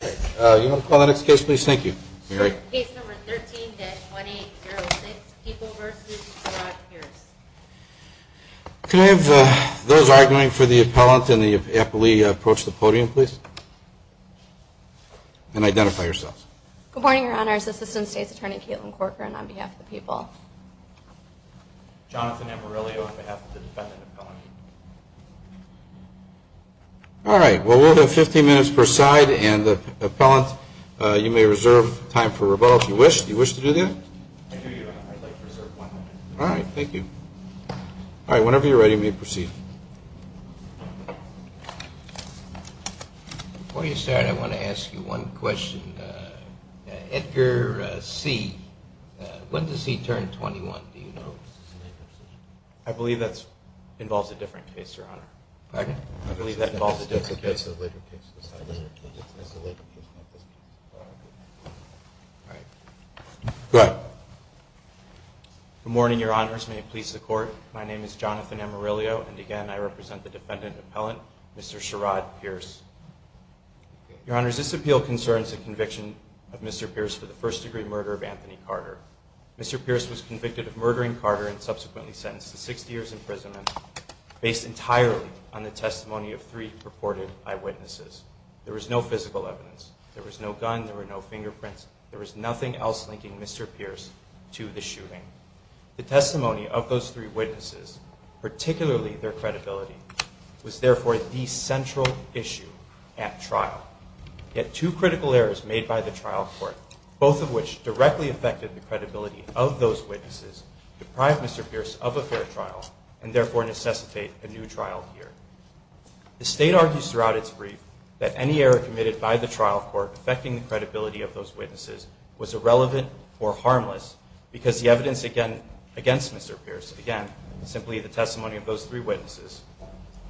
Can I have those arguing for the appellant and the appellee approach the podium, please? And identify yourselves. Good morning, Your Honors. Assistant State's Attorney Caitlin Corcoran on behalf of the people. Jonathan Amorilio on behalf of the defendant appellant. All right. Well, we'll have 15 minutes per side. And the appellant, you may reserve time for rebuttal if you wish to do that. All right. Thank you. All right. Whenever you're ready, we may proceed. Before you start, I want to ask you one question. Edgar C., when does he turn 21, do you know? I believe that involves a different case, Your Honor. Pardon? I believe that involves a different case. All right. Go ahead. Good morning, Your Honors. May it please the Court. My name is Jonathan Amorilio. And again, I represent the defendant appellant, Mr. Sherrod Pierce. Your Honors, this appeal concerns the conviction of Mr. Pierce for the first degree murder of Anthony Carter. Mr. Pierce was convicted of murdering Carter and subsequently sentenced to 60 years imprisonment based entirely on the testimony of three purported eyewitnesses. There was no physical evidence. There was no gun. There were no fingerprints. There was nothing else linking Mr. Pierce to the shooting. The testimony of those three witnesses, particularly their credibility, was therefore the central issue at trial. Yet two critical errors made by the trial court, both of which directly affected the credibility of those witnesses, deprive Mr. Pierce of a fair trial and therefore necessitate a new trial here. The State argues throughout its brief that any error committed by the trial court affecting the credibility of those witnesses was irrelevant or harmless because the evidence against Mr. Pierce, again, simply the testimony of those three witnesses,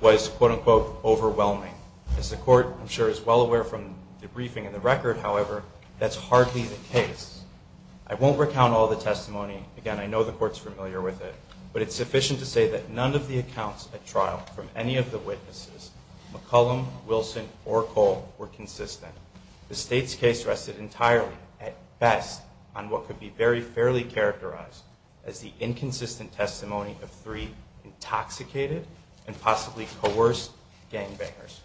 was, quote-unquote, overwhelming. As the Court, I'm sure, is well aware from the briefing and the record, however, that's hardly the case. I won't recount all the testimony. Again, I know the Court's familiar with it, but it's sufficient to say that none of the accounts at trial from any of the witnesses, McCollum, Wilson, or Cole, were consistent. The State's case rested entirely at best on what could be very fairly characterized as the inconsistent testimony of three intoxicated and possibly coerced gangbangers.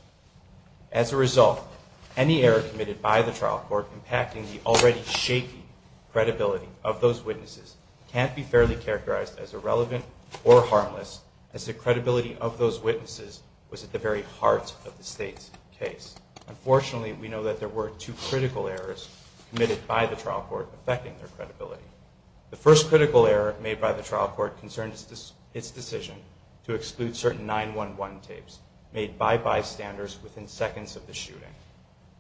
As a result, any error committed by the trial court impacting the already shaky credibility of those witnesses can't be fairly characterized as irrelevant or harmless as the credibility of those witnesses was at the very heart of the State's case. Unfortunately, we know that there were two critical errors committed by the trial court affecting their credibility. The first critical error made by the trial court concerned its decision to exclude certain 911 tapes made by bystanders within seconds of the shooting,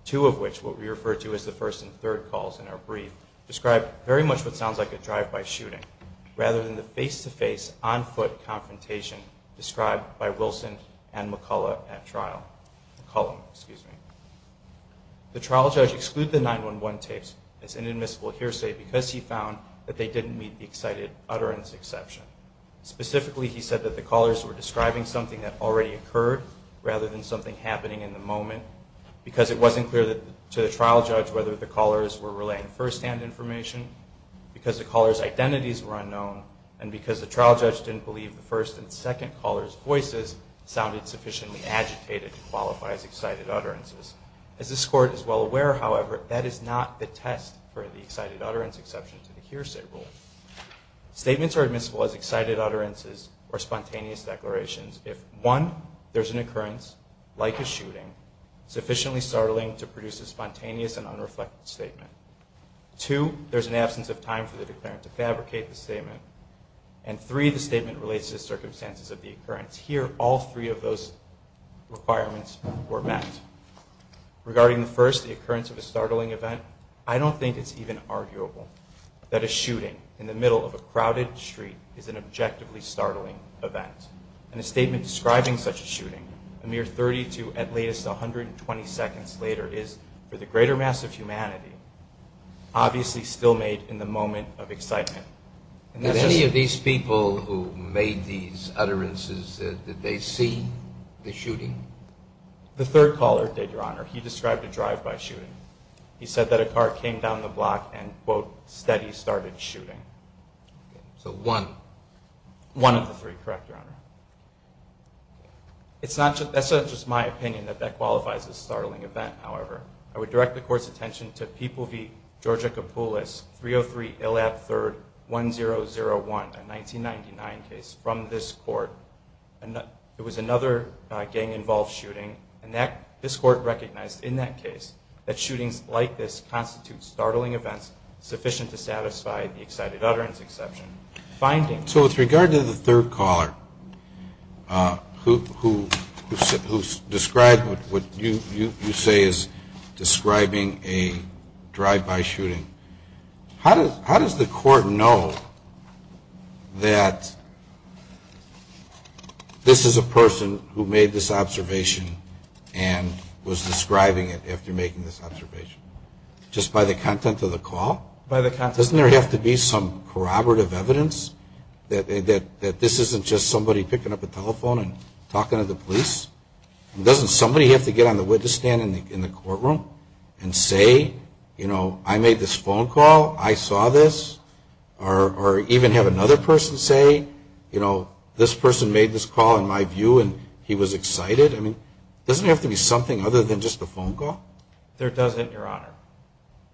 two of which, what we refer to as the first and third calls in our brief, describe very much what sounds like a drive-by shooting rather than the face-to-face, on-foot confrontation described by Wilson and McCollum at trial. The trial judge excluded the 911 tapes as an admissible hearsay because he found that they didn't meet the excited utterance exception. Specifically, he said that the callers were describing something that already occurred rather than something happening in the moment because it wasn't clear to the trial judge whether the callers were relaying firsthand information, because the callers' identities were unknown, and because the trial judge didn't believe the first and second callers' voices sounded sufficiently agitated to qualify as excited utterances. As this Court is well aware, however, that is not the test for the excited utterance exception to the hearsay rule. Statements are admissible as excited utterances or spontaneous declarations if, one, there's an occurrence, like a shooting, sufficiently startling to produce a spontaneous and unreflective statement. Two, there's an absence of time for the declarant to fabricate the statement. And three, the statement relates to the circumstances of the occurrence. Here, all three of those requirements were met. Regarding the first, the occurrence of a startling event, I don't think it's even arguable that a shooting in the middle of a crowded street is an objectively startling event. In a statement describing such a shooting, a mere 30 to at latest 120 seconds later is, for the greater mass of humanity, obviously still made in the moment of excitement. Did any of these people who made these utterances, did they see the shooting? The third caller did, Your Honor. He described a drive-by shooting. He said that a car came down the block and, quote, said he started shooting. So one? One of the three, correct, Your Honor. It's not just my opinion that that qualifies as a startling event, however. I would direct the Court's attention to People v. Georgia Kapoulis, 303 Illab 3rd, 1001, a 1999 case from this Court. It was another gang-involved shooting, and this Court recognized in that case that shootings like this constitute startling events sufficient to satisfy the excited utterance exception. So with regard to the third caller who described what you say is describing a drive-by shooting, how does the Court know that this is a person who made this observation and was describing it after making this observation? Just by the content of the call? By the content. Doesn't there have to be some corroborative evidence that this isn't just somebody picking up a telephone and talking to the police? Doesn't somebody have to get on the witness stand in the courtroom and say, you know, I made this phone call, I saw this? Or even have another person say, you know, this person made this call in my view and he was excited? I mean, doesn't it have to be something other than just a phone call? There doesn't, Your Honor.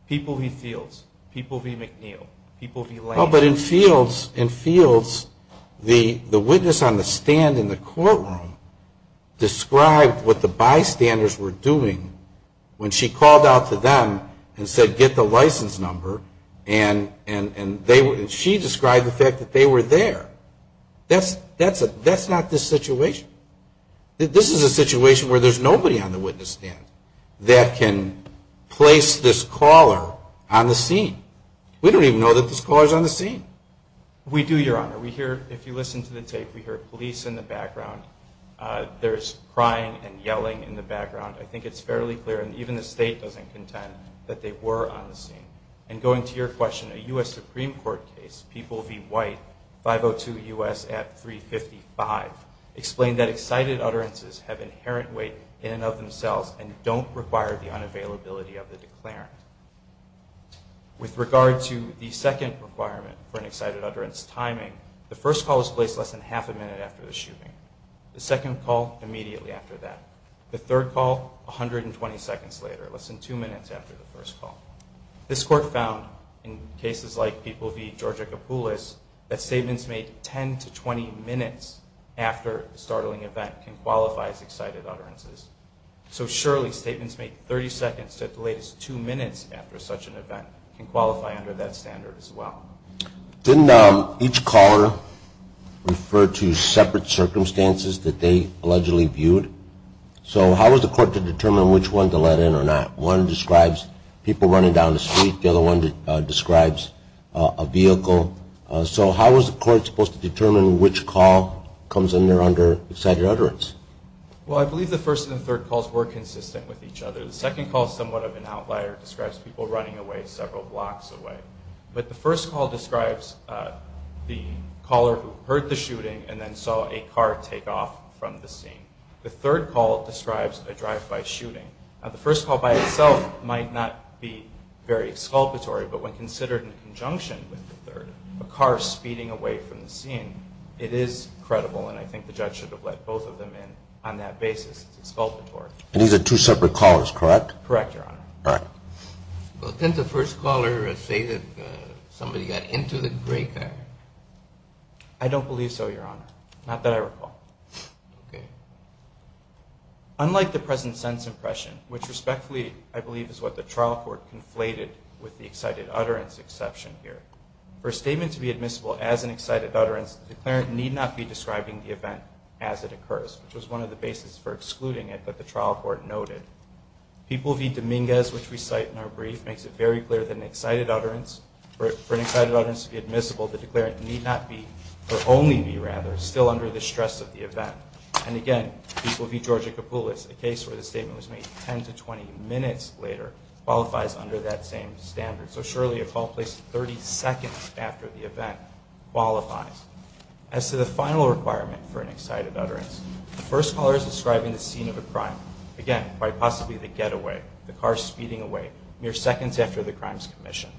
People v. Fields. People v. McNeil. People v. Lane. But in Fields, the witness on the stand in the courtroom described what the bystanders were doing when she called out to them and said, get the license number, and she described the fact that they were there. That's not the situation. This is a situation where there's nobody on the witness stand that can place this caller on the scene. We don't even know that this caller is on the scene. We do, Your Honor. We hear, if you listen to the tape, we hear police in the background. There's crying and yelling in the background. I think it's fairly clear, and even the state doesn't contend, that they were on the scene. And going to your question, a U.S. Supreme Court case, people v. White, 502 U.S. at 355, explained that excited utterances have inherent weight in and of themselves and don't require the unavailability of the declarant. With regard to the second requirement for an excited utterance timing, the first call is placed less than half a minute after the shooting. The second call, immediately after that. The third call, 120 seconds later, less than two minutes after the first call. This court found, in cases like people v. Georgia Kapoulis, that statements made 10 to 20 minutes after a startling event can qualify as excited utterances. So surely statements made 30 seconds to at the latest two minutes after such an event can qualify under that standard as well. Didn't each caller refer to separate circumstances that they allegedly viewed? So how was the court to determine which one to let in or not? One describes people running down the street. The other one describes a vehicle. So how was the court supposed to determine which call comes under excited utterance? Well, I believe the first and third calls were consistent with each other. The second call is somewhat of an outlier. It describes people running away several blocks away. But the first call describes the caller who heard the shooting and then saw a car take off from the scene. The third call describes a drive-by shooting. The first call by itself might not be very exculpatory, but when considered in conjunction with the third, a car speeding away from the scene, it is credible and I think the judge should have let both of them in on that basis. It's exculpatory. And these are two separate callers, correct? Correct, Your Honor. All right. Well, didn't the first caller say that somebody got into the gray car? I don't believe so, Your Honor. Not that I recall. Okay. Unlike the present sense impression, which respectfully I believe is what the trial court conflated with the excited utterance exception here, for a statement to be admissible as an excited utterance, the declarant need not be describing the event as it occurs, which was one of the basis for excluding it that the trial court noted. People v. Dominguez, which we cite in our brief, makes it very clear that an excited utterance, for an excited utterance to be admissible, And again, people v. Georgia Kapulis, a case where the statement was made 10 to 20 minutes later, qualifies under that same standard. So surely a call placed 30 seconds after the event qualifies. As to the final requirement for an excited utterance, the first caller is describing the scene of a crime. Again, quite possibly the getaway, the car speeding away, mere seconds after the crime's commission.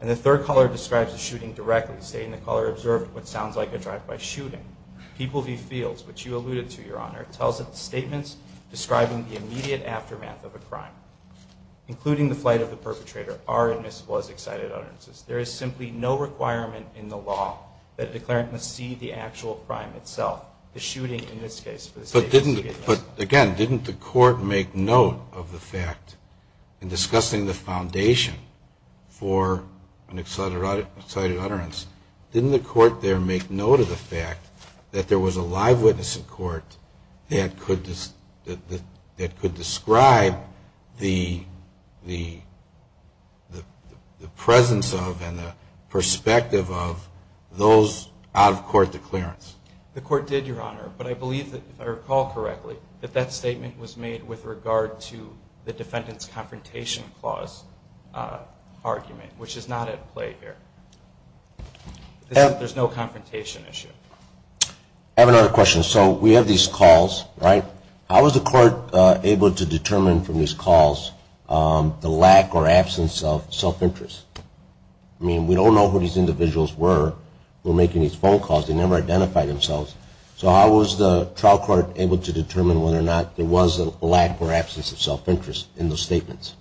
And the third caller describes the shooting directly, stating the caller observed what sounds like a drive-by shooting. People v. Fields, which you alluded to, Your Honor, tells of statements describing the immediate aftermath of a crime, including the flight of the perpetrator, are admissible as excited utterances. There is simply no requirement in the law that a declarant must see the actual crime itself, the shooting in this case. But didn't the court make note of the fact, in discussing the foundation for an excited utterance, didn't the court there make note of the fact that there was a live witness in court that could describe the presence of and the perspective of those out-of-court declarants? The court did, Your Honor. But I believe, if I recall correctly, that that statement was made with regard to the defendant's confrontation clause argument, which is not at play here. There's no confrontation issue. I have another question. So we have these calls, right? How was the court able to determine from these calls the lack or absence of self-interest? I mean, we don't know who these individuals were who were making these phone calls. They never identified themselves. So how was the trial court able to determine whether or not there was a lack or absence of self-interest in those statements?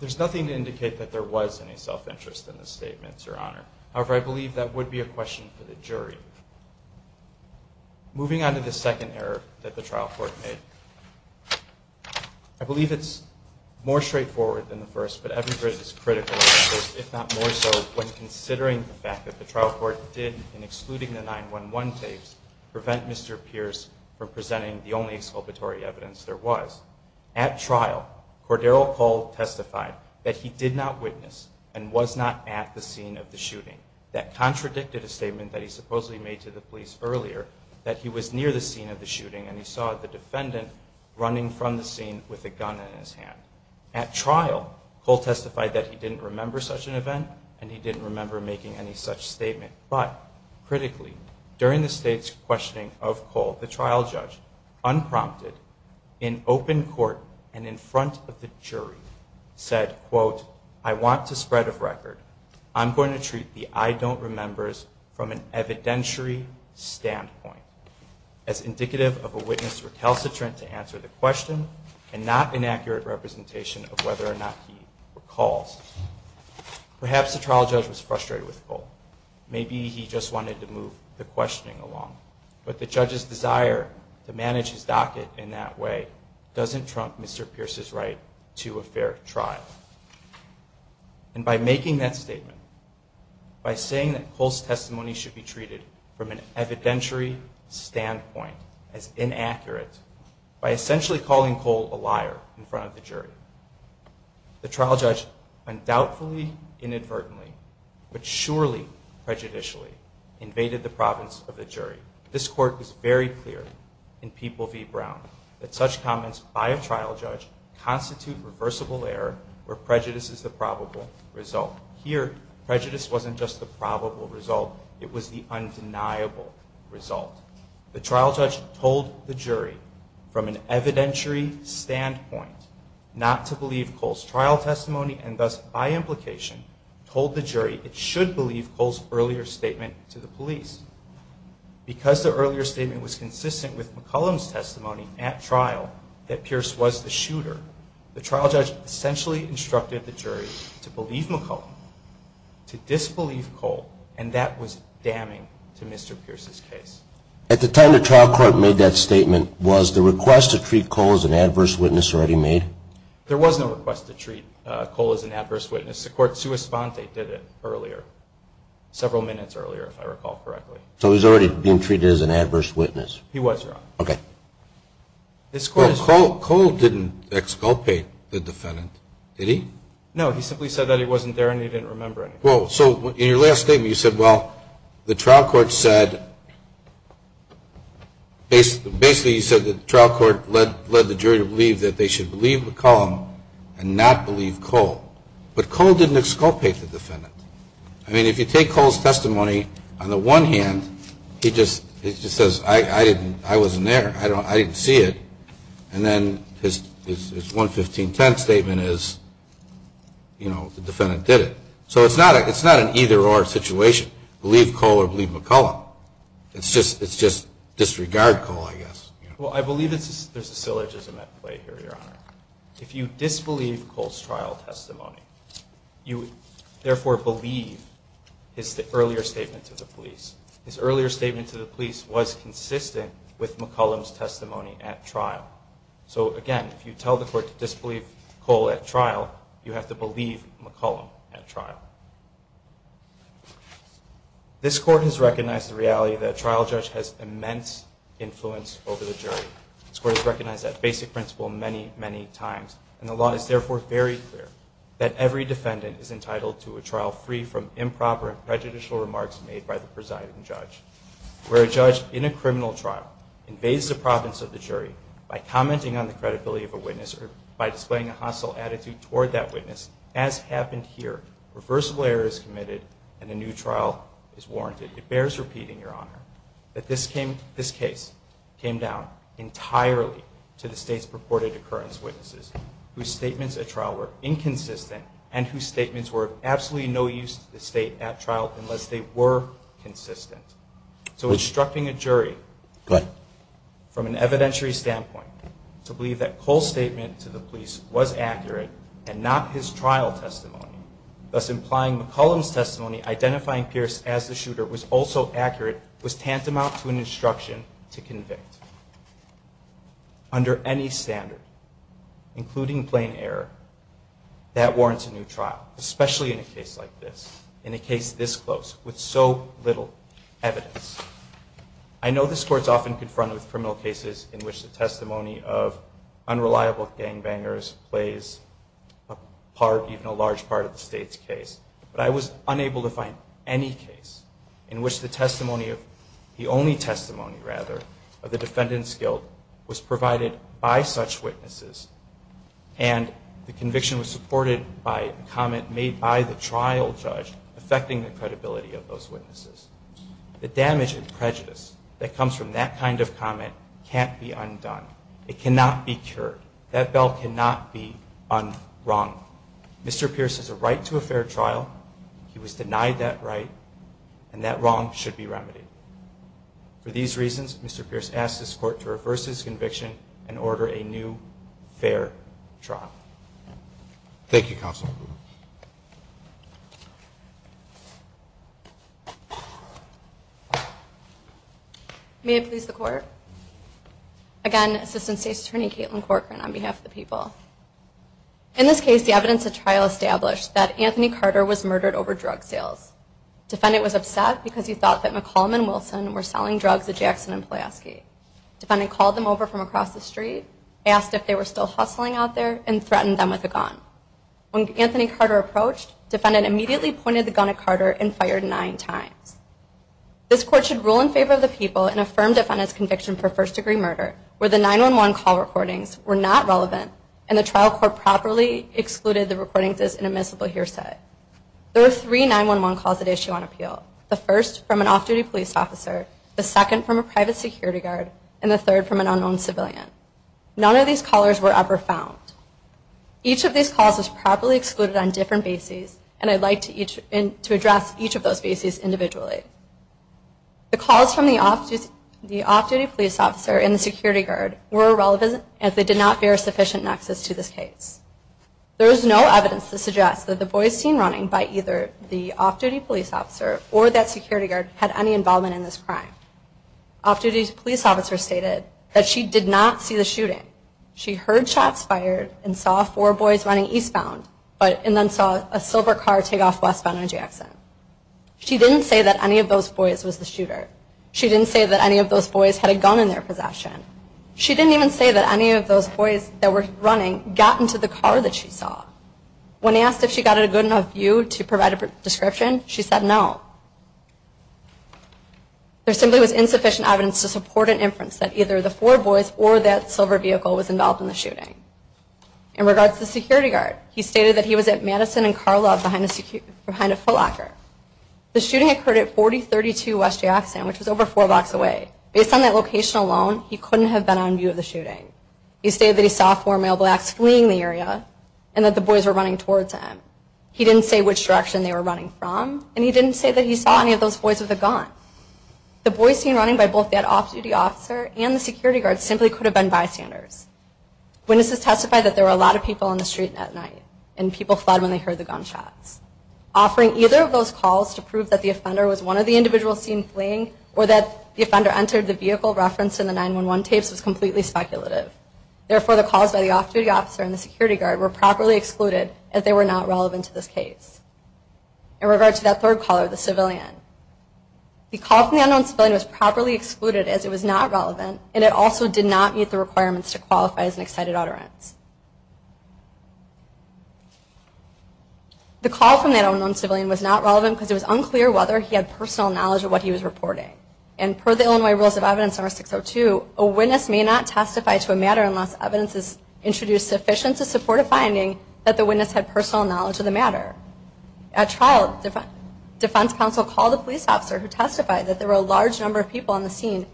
There's nothing to indicate that there was any self-interest in the statements, Your Honor. However, I believe that would be a question for the jury. Moving on to the second error that the trial court made. I believe it's more straightforward than the first, but evidence is critical, if not more so, when considering the fact that the trial court did, in excluding the 911 tapes, prevent Mr. Pierce from presenting the only exculpatory evidence there was. At trial, Cordero Cole testified that he did not witness and was not at the scene of the shooting. That contradicted a statement that he supposedly made to the police earlier, that he was near the scene of the shooting, and he saw the defendant running from the scene with a gun in his hand. At trial, Cole testified that he didn't remember such an event, and he didn't remember making any such statement. But, critically, during the state's questioning of Cole, the trial judge, unprompted, in open court, and in front of the jury, said, quote, I want to spread a record. I'm going to treat the I don't remembers from an evidentiary standpoint, as indicative of a witness recalcitrant to answer the question, and not an accurate representation of whether or not he recalls. Perhaps the trial judge was frustrated with Cole. Maybe he just wanted to move the questioning along. But the judge's desire to manage his docket in that way doesn't trump Mr. Pierce's right to a fair trial. And by making that statement, by saying that Cole's testimony should be treated from an evidentiary standpoint as inaccurate, by essentially calling Cole a liar in front of the jury, the trial judge undoubtedly, inadvertently, but surely prejudicially invaded the province of the jury. This court was very clear in People v. Brown that such comments by a trial judge constitute reversible error where prejudice is the probable result. Here, prejudice wasn't just the probable result. It was the undeniable result. The trial judge told the jury, from an evidentiary standpoint, not to believe Cole's trial testimony, and thus, by implication, told the jury it should believe Cole's earlier statement to the police. Because the earlier statement was consistent with McCollum's testimony at trial that Pierce was the shooter, the trial judge essentially instructed the jury to believe McCollum, to disbelieve Cole, and that was damning to Mr. Pierce's case. At the time the trial court made that statement was the request to treat Cole as an adverse witness already made? There was no request to treat Cole as an adverse witness. The court sua sponte did it earlier, several minutes earlier, if I recall correctly. So he was already being treated as an adverse witness? He was, Your Honor. Okay. Cole didn't exculpate the defendant, did he? No, he simply said that he wasn't there and he didn't remember anything. So in your last statement you said, well, the trial court said, basically you said the trial court led the jury to believe that they should believe McCollum and not believe Cole. But Cole didn't exculpate the defendant. I mean, if you take Cole's testimony, on the one hand, he just says, I wasn't there, I didn't see it. And then his 11510 statement is, you know, the defendant did it. So it's not an either-or situation, believe Cole or believe McCollum. It's just disregard Cole, I guess. Well, I believe there's a syllogism at play here, Your Honor. If you disbelieve Cole's trial testimony, you therefore believe his earlier statement to the police. His earlier statement to the police was consistent with McCollum's testimony at trial. So, again, if you tell the court to disbelieve Cole at trial, you have to believe McCollum at trial. This court has recognized the reality that a trial judge has immense influence over the jury. This court has recognized that basic principle many, many times. And the law is therefore very clear that every defendant is entitled to a trial free from improper and prejudicial remarks made by the presiding judge. Where a judge in a criminal trial invades the province of the jury by commenting on the credibility of a witness or by displaying a hostile attitude toward that witness, as happened here, reversible error is committed and a new trial is warranted. It bears repeating, Your Honor, that this case came down entirely to the state's purported occurrence witnesses whose statements at trial were inconsistent and whose statements were of absolutely no use to the state at trial unless they were consistent. So instructing a jury from an evidentiary standpoint to believe that Cole's statement to the police was accurate and not his trial testimony, thus implying McCollum's testimony identifying Pierce as the shooter was also accurate, was tantamount to an instruction to convict. Under any standard, including plain error, that warrants a new trial, especially in a case like this, in a case this close, with so little evidence. I know this court is often confronted with criminal cases in which the public gangbangers plays a part, even a large part, of the state's case. But I was unable to find any case in which the testimony of the only testimony, rather, of the defendant's guilt was provided by such witnesses and the conviction was supported by a comment made by the trial judge affecting the credibility of those witnesses. The damage and prejudice that comes from that kind of comment can't be undone. It cannot be cured. That bell cannot be un-rung. Mr. Pierce has a right to a fair trial. He was denied that right, and that wrong should be remedied. For these reasons, Mr. Pierce asks this court to reverse his conviction and order a new fair trial. Thank you, Counsel. May it please the Court. Again, Assistant State's Attorney Caitlin Corcoran on behalf of the people. In this case, the evidence of trial established that Anthony Carter was murdered over drug sales. The defendant was upset because he thought that McCollum and Wilson were selling drugs at Jackson and Pulaski. The defendant called them over from across the street, asked if they were still hustling out there, and threatened them with a gun. When Anthony Carter approached, the defendant immediately pointed the gun at Carter and fired nine times. This court should rule in favor of the people and affirm the defendant's conviction for first-degree murder where the 911 call recordings were not relevant and the trial court properly excluded the recordings as an admissible hearsay. There were three 911 calls that issued on appeal, the first from an off-duty police officer, the second from a private security guard, and the third from an unknown civilian. None of these callers were ever found. Each of these calls was properly excluded on different bases, and I'd like to address each of those bases individually. The calls from the off-duty police officer and the security guard were irrelevant as they did not bear sufficient nexus to this case. There is no evidence to suggest that the boys seen running by either the off-duty police officer or that security guard had any involvement in this crime. Off-duty police officer stated that she did not see the shooting. She heard shots fired and saw four boys running eastbound and then saw a silver car take off westbound on Jackson. She didn't say that any of those boys was the shooter. She didn't say that any of those boys had a gun in their possession. She didn't even say that any of those boys that were running got into the car that she saw. When asked if she got a good enough view to provide a description, she said no. There simply was insufficient evidence to support an inference that either the four boys or that silver vehicle was involved in the shooting. In regards to the security guard, he stated that he was at Madison and Carl Love behind a footlocker. The shooting occurred at 4032 West Jackson, which was over four blocks away. Based on that location alone, he couldn't have been on view of the shooting. He stated that he saw four male blacks fleeing the area and that the boys were running towards him. He didn't say which direction they were running from, and he didn't say that he saw any of those boys with a gun. The boys seen running by both that off-duty officer and the security guard simply could have been bystanders. Witnesses testified that there were a lot of people on the street at night, and people fled when they heard the gunshots. Offering either of those calls to prove that the offender was one of the individuals seen fleeing or that the offender entered the vehicle referenced in the 911 tapes was completely speculative. Therefore, the calls by the off-duty officer and the security guard were properly excluded as they were not relevant to this case. In regard to that third caller, the civilian, the call from the unknown civilian was properly excluded as it was not relevant, and it also did not meet the requirements to qualify as an excited utterance. The call from that unknown civilian was not relevant because it was unclear whether he had personal knowledge of what he was reporting. And per the Illinois Rules of Evidence Number 602, a witness may not testify to a matter unless evidence is introduced sufficient to support a finding that the witness had personal knowledge of the matter. At trial, defense counsel called a police officer who testified that there were a large number of people on the scene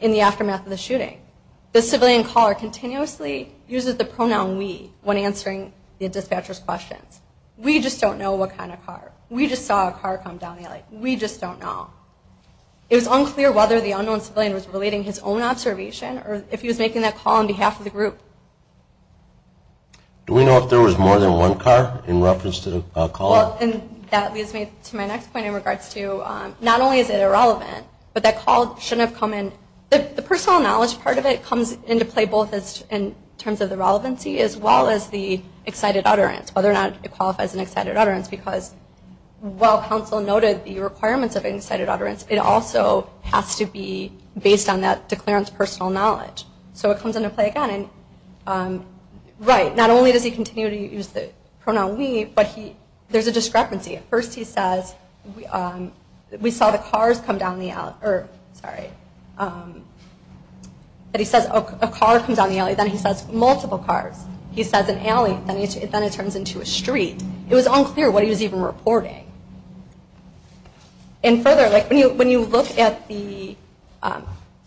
in the aftermath of the shooting. The civilian caller continuously uses the pronoun we when answering the dispatcher's questions. We just don't know what kind of car. We just saw a car come down the alley. We just don't know. It was unclear whether the unknown civilian was relating his own observation or if he was making that call on behalf of the group. Do we know if there was more than one car in reference to the caller? Well, and that leads me to my next point in regards to not only is it irrelevant, but that call shouldn't have come in. The personal knowledge part of it comes into play both in terms of the relevancy as well as the excited utterance, whether or not it qualifies as an excited utterance because while counsel noted the requirements of an excited utterance, it also has to be based on that declarant's personal knowledge. So it comes into play again. Right. Not only does he continue to use the pronoun we, but there's a discrepancy. At first he says, we saw the cars come down the alley. Or, sorry. But he says a car comes down the alley. Then he says multiple cars. He says an alley. Then it turns into a street. It was unclear what he was even reporting. And further, when you look at the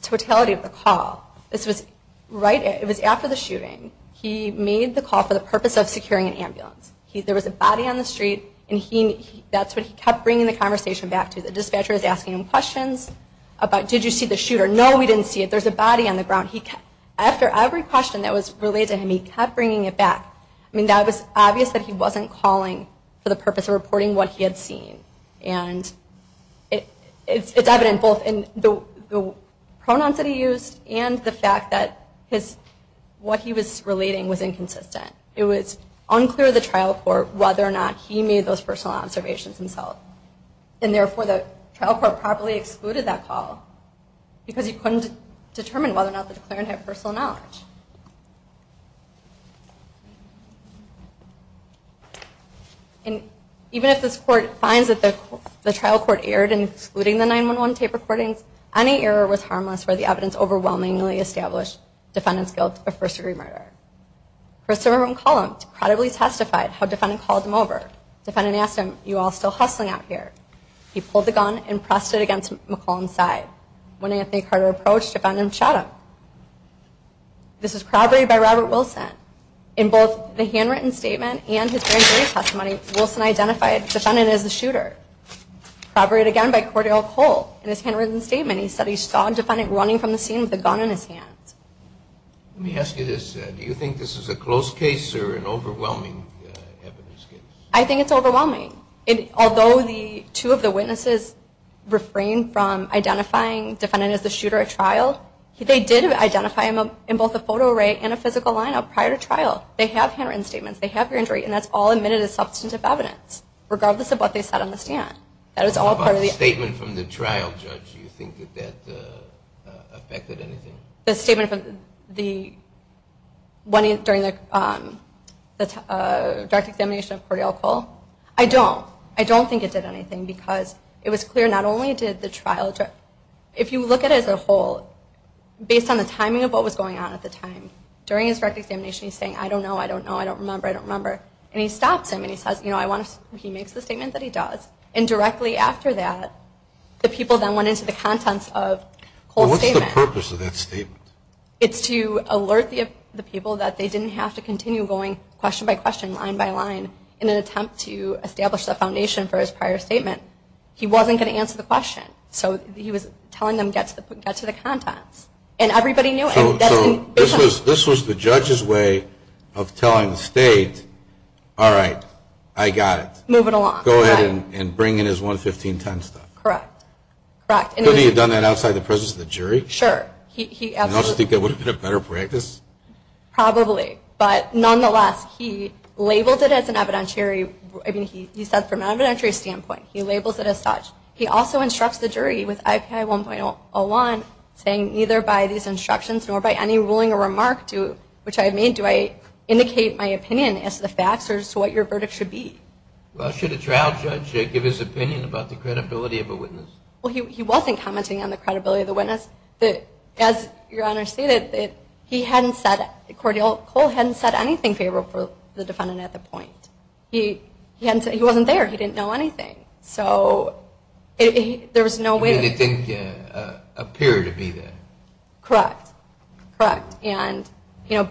totality of the call, this was right after the shooting. He made the call for the purpose of securing an ambulance. There was a body on the street, and that's what he kept bringing the conversation back to. The dispatcher was asking him questions about, did you see the shooter? No, we didn't see it. There's a body on the ground. After every question that was related to him, he kept bringing it back. I mean, that was obvious that he wasn't calling for the purpose of reporting what he had seen. And it's evident both in the pronouns that he used and the fact that what he was relating was inconsistent. It was unclear to the trial court whether or not he made those personal observations himself. And therefore, the trial court probably excluded that call because he couldn't determine whether or not the declarant had personal knowledge. And even if this court finds that the trial court erred in excluding the 911 tape recordings, any error was harmless for the evidence overwhelmingly established defendant's guilt of first-degree murder. Christopher McCollum decredibly testified how defendant called him over. Defendant asked him, you all still hustling out here? He pulled the gun and pressed it against McCollum's side. When Anthony Carter approached, defendant shot him. This is corroborated by Robert Wilson. In both the handwritten statement and his first-degree testimony, Wilson identified defendant as the shooter. Corroborated again by Cordell Cole. In his handwritten statement, he said he saw defendant running from the scene with a gun in his hand. Let me ask you this. Do you think this is a close case or an overwhelming evidence case? I think it's overwhelming. Although the two of the witnesses refrained from identifying defendant as the shooter at trial, they did identify him in both a photo array and a physical line-up prior to trial. They have handwritten statements. They have injury. And that's all admitted as substantive evidence, regardless of what they said on the stand. That is all part of the evidence. What about the statement from the trial judge? Do you think that that affected anything? The statement from the one during the direct examination of Cordell Cole? I don't. I don't think it did anything because it was clear not only did the trial judge, if you look at it as a whole, based on the timing of what was going on at the time, during his direct examination he's saying, I don't know, I don't know, I don't remember, I don't remember. And he stops him and he says, you know, he makes the statement that he does. And directly after that, the people then went into the contents of Cole's statement. What's the purpose of that statement? It's to alert the people that they didn't have to continue going question by question, line by line, in an attempt to establish the foundation for his prior statement. He wasn't going to answer the question. So he was telling them get to the contents. And everybody knew. So this was the judge's way of telling the state, all right, I got it. Move it along. Go ahead and bring in his 11510 stuff. Correct. Correct. Could he have done that outside the presence of the jury? Sure. He absolutely. And you think it would have been a better practice? Probably. But nonetheless, he labeled it as an evidentiary, I mean he said from an evidentiary standpoint, he labels it as such. He also instructs the jury with IPI 1.01 saying neither by these instructions nor by any ruling or remark which I made do I indicate my opinion as to the facts or as to what your verdict should be. Well, should a trial judge give his opinion about the credibility of a witness? Well, he wasn't commenting on the credibility of the witness. As Your Honor stated, he hadn't said, Cole hadn't said anything favorable for the defendant at the point. He wasn't there. He didn't know anything. So there was no way. He didn't appear to be there. Correct. Correct. And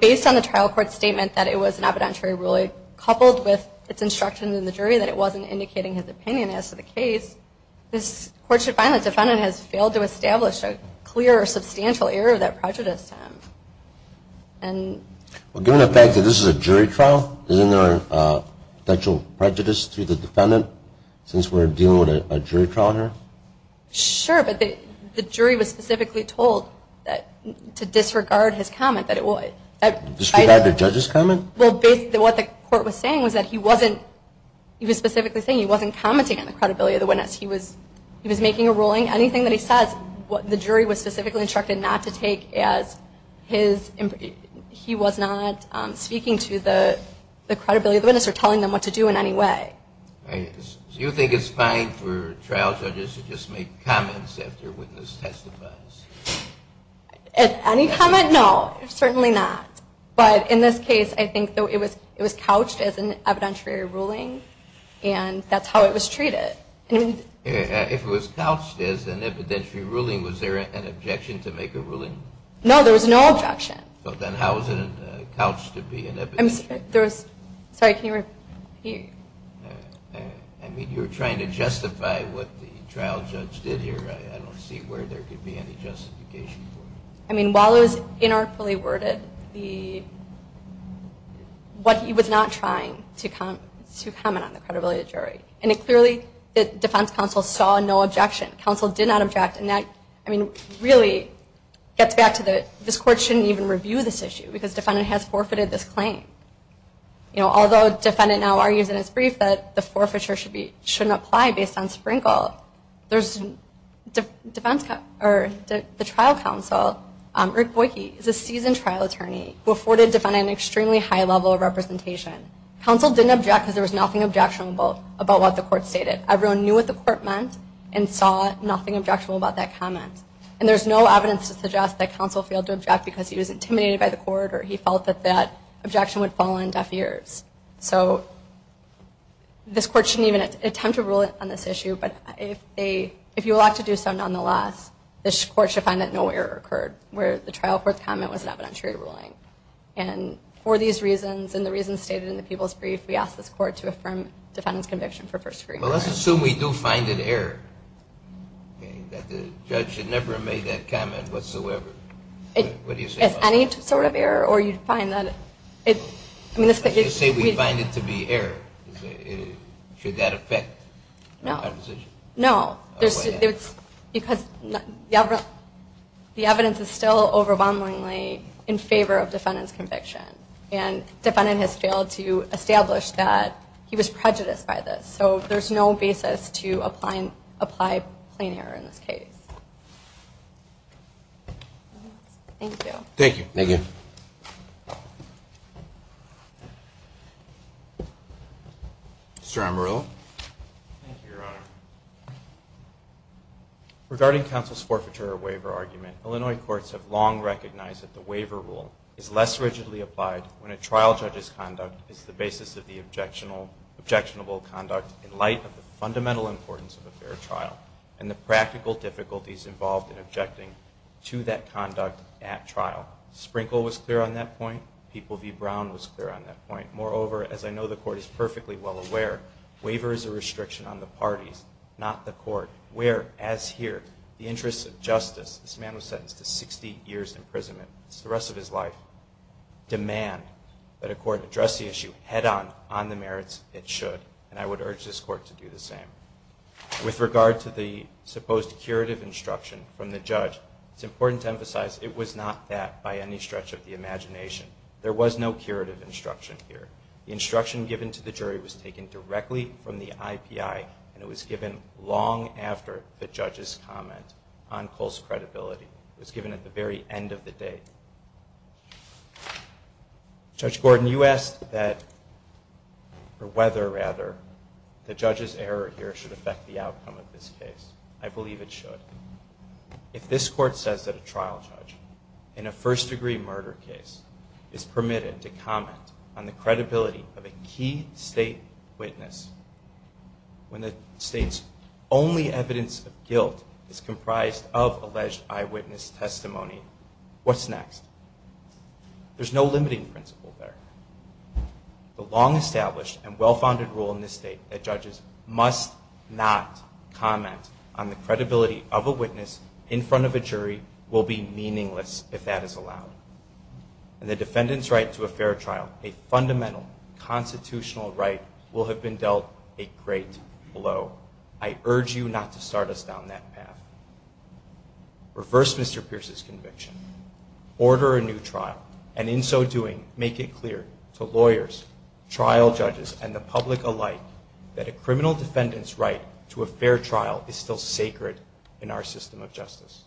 based on the trial court statement that it was an evidentiary ruling coupled with its instruction in the jury that it wasn't indicating his opinion as to the case, this court should find the defendant has failed to establish a clear or substantial error that prejudiced him. Well, given the fact that this is a jury trial, isn't there a potential prejudice to the defendant? Since we're dealing with a jury trial here? Sure. But the jury was specifically told to disregard his comment. Disregard the judge's comment? Well, what the court was saying was that he wasn't, he was specifically saying he wasn't commenting on the credibility of the witness. He was making a ruling. Anything that he says, the jury was specifically instructed not to take as his, he was not speaking to the credibility of the witness or telling them what to do in any way. So you think it's fine for trial judges to just make comments after a witness testifies? Any comment? No. Certainly not. But in this case, I think it was couched as an evidentiary ruling, and that's how it was treated. If it was couched as an evidentiary ruling, was there an objection to make a ruling? No, there was no objection. So then how is it couched to be an evidentiary? Sorry, can you repeat? I mean, you were trying to justify what the trial judge did here. I don't see where there could be any justification for it. I mean, while it was inarticulately worded, what he was not trying to comment on, the credibility of the jury. And it clearly, the defense counsel saw no objection. Counsel did not object. And that, I mean, really gets back to the, this court shouldn't even review this issue, because the defendant has forfeited this claim. Although the defendant now argues in his brief that the forfeiture shouldn't apply based on Sprinkle, the trial counsel, Rick Boyke, is a seasoned trial attorney who afforded the defendant an extremely high level of representation. Counsel didn't object because there was nothing objectionable about what the court stated. Everyone knew what the court meant and saw nothing objectionable about that comment. And there's no evidence to suggest that counsel failed to object because he was intimidated by the court or he felt that that objection would fall on deaf ears. So this court shouldn't even attempt to rule on this issue. But if they, if you elect to do so nonetheless, this court should find that no error occurred, where the trial court's comment was an evidentiary ruling. And for these reasons and the reasons stated in the people's brief, we ask this court to affirm defendant's conviction for first degree murder. Well, let's assume we do find an error, that the judge had never made that comment whatsoever. What do you say? Any sort of error or you'd find that it, I mean, let's say we find it to be error. Should that affect? No. No. Because the evidence is still overwhelmingly in favor of defendant's conviction. And defendant has failed to establish that he was prejudiced by this. So there's no basis to apply plain error in this case. Thank you. Thank you. Thank you. Mr. Amarillo. Thank you, Your Honor. Regarding counsel's forfeiture waiver argument, Illinois courts have long recognized that the waiver rule is less rigidly applied when a trial judge's conduct is the basis of the objectionable conduct in light of the fundamental importance of a fair trial. And the practical difficulties involved in objecting to that conduct at trial. Sprinkle was clear on that point. People v. Brown was clear on that point. Moreover, as I know the court is perfectly well aware, waiver is a restriction on the parties, not the court. Whereas here, the interests of justice, this man was sentenced to 60 years imprisonment. It's the rest of his life. Demand that a court address the issue head on on the merits it should. And I would urge this court to do the same. With regard to the supposed curative instruction from the judge, it's important to emphasize it was not that by any stretch of the imagination. There was no curative instruction here. The instruction given to the jury was taken directly from the IPI, and it was given long after the judge's comment on Cole's credibility. It was given at the very end of the day. Judge Gordon, when you asked that, or whether, rather, the judge's error here should affect the outcome of this case, I believe it should. If this court says that a trial judge in a first-degree murder case is permitted to comment on the credibility of a key state witness when the state's only evidence of guilt is comprised of alleged eyewitness testimony, what's next? There's no limiting principle there. The long-established and well-founded rule in this state that judges must not comment on the credibility of a witness in front of a jury will be meaningless if that is allowed. And the defendant's right to a fair trial, a fundamental constitutional right, will have been dealt a great blow. I urge you not to start us down that path. Reverse Mr. Pierce's conviction. Order a new trial. And in so doing, make it clear to lawyers, trial judges, and the public alike that a criminal defendant's right to a fair trial is still sacred in our system of justice.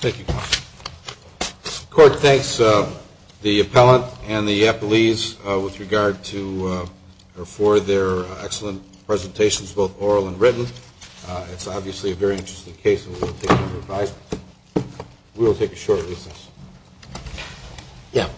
Thank you. The court thanks the appellant and the appellees with regard to or for their excellent presentations, both oral and written. It's obviously a very interesting case and we will take your advice. We will take a short recess. Yeah.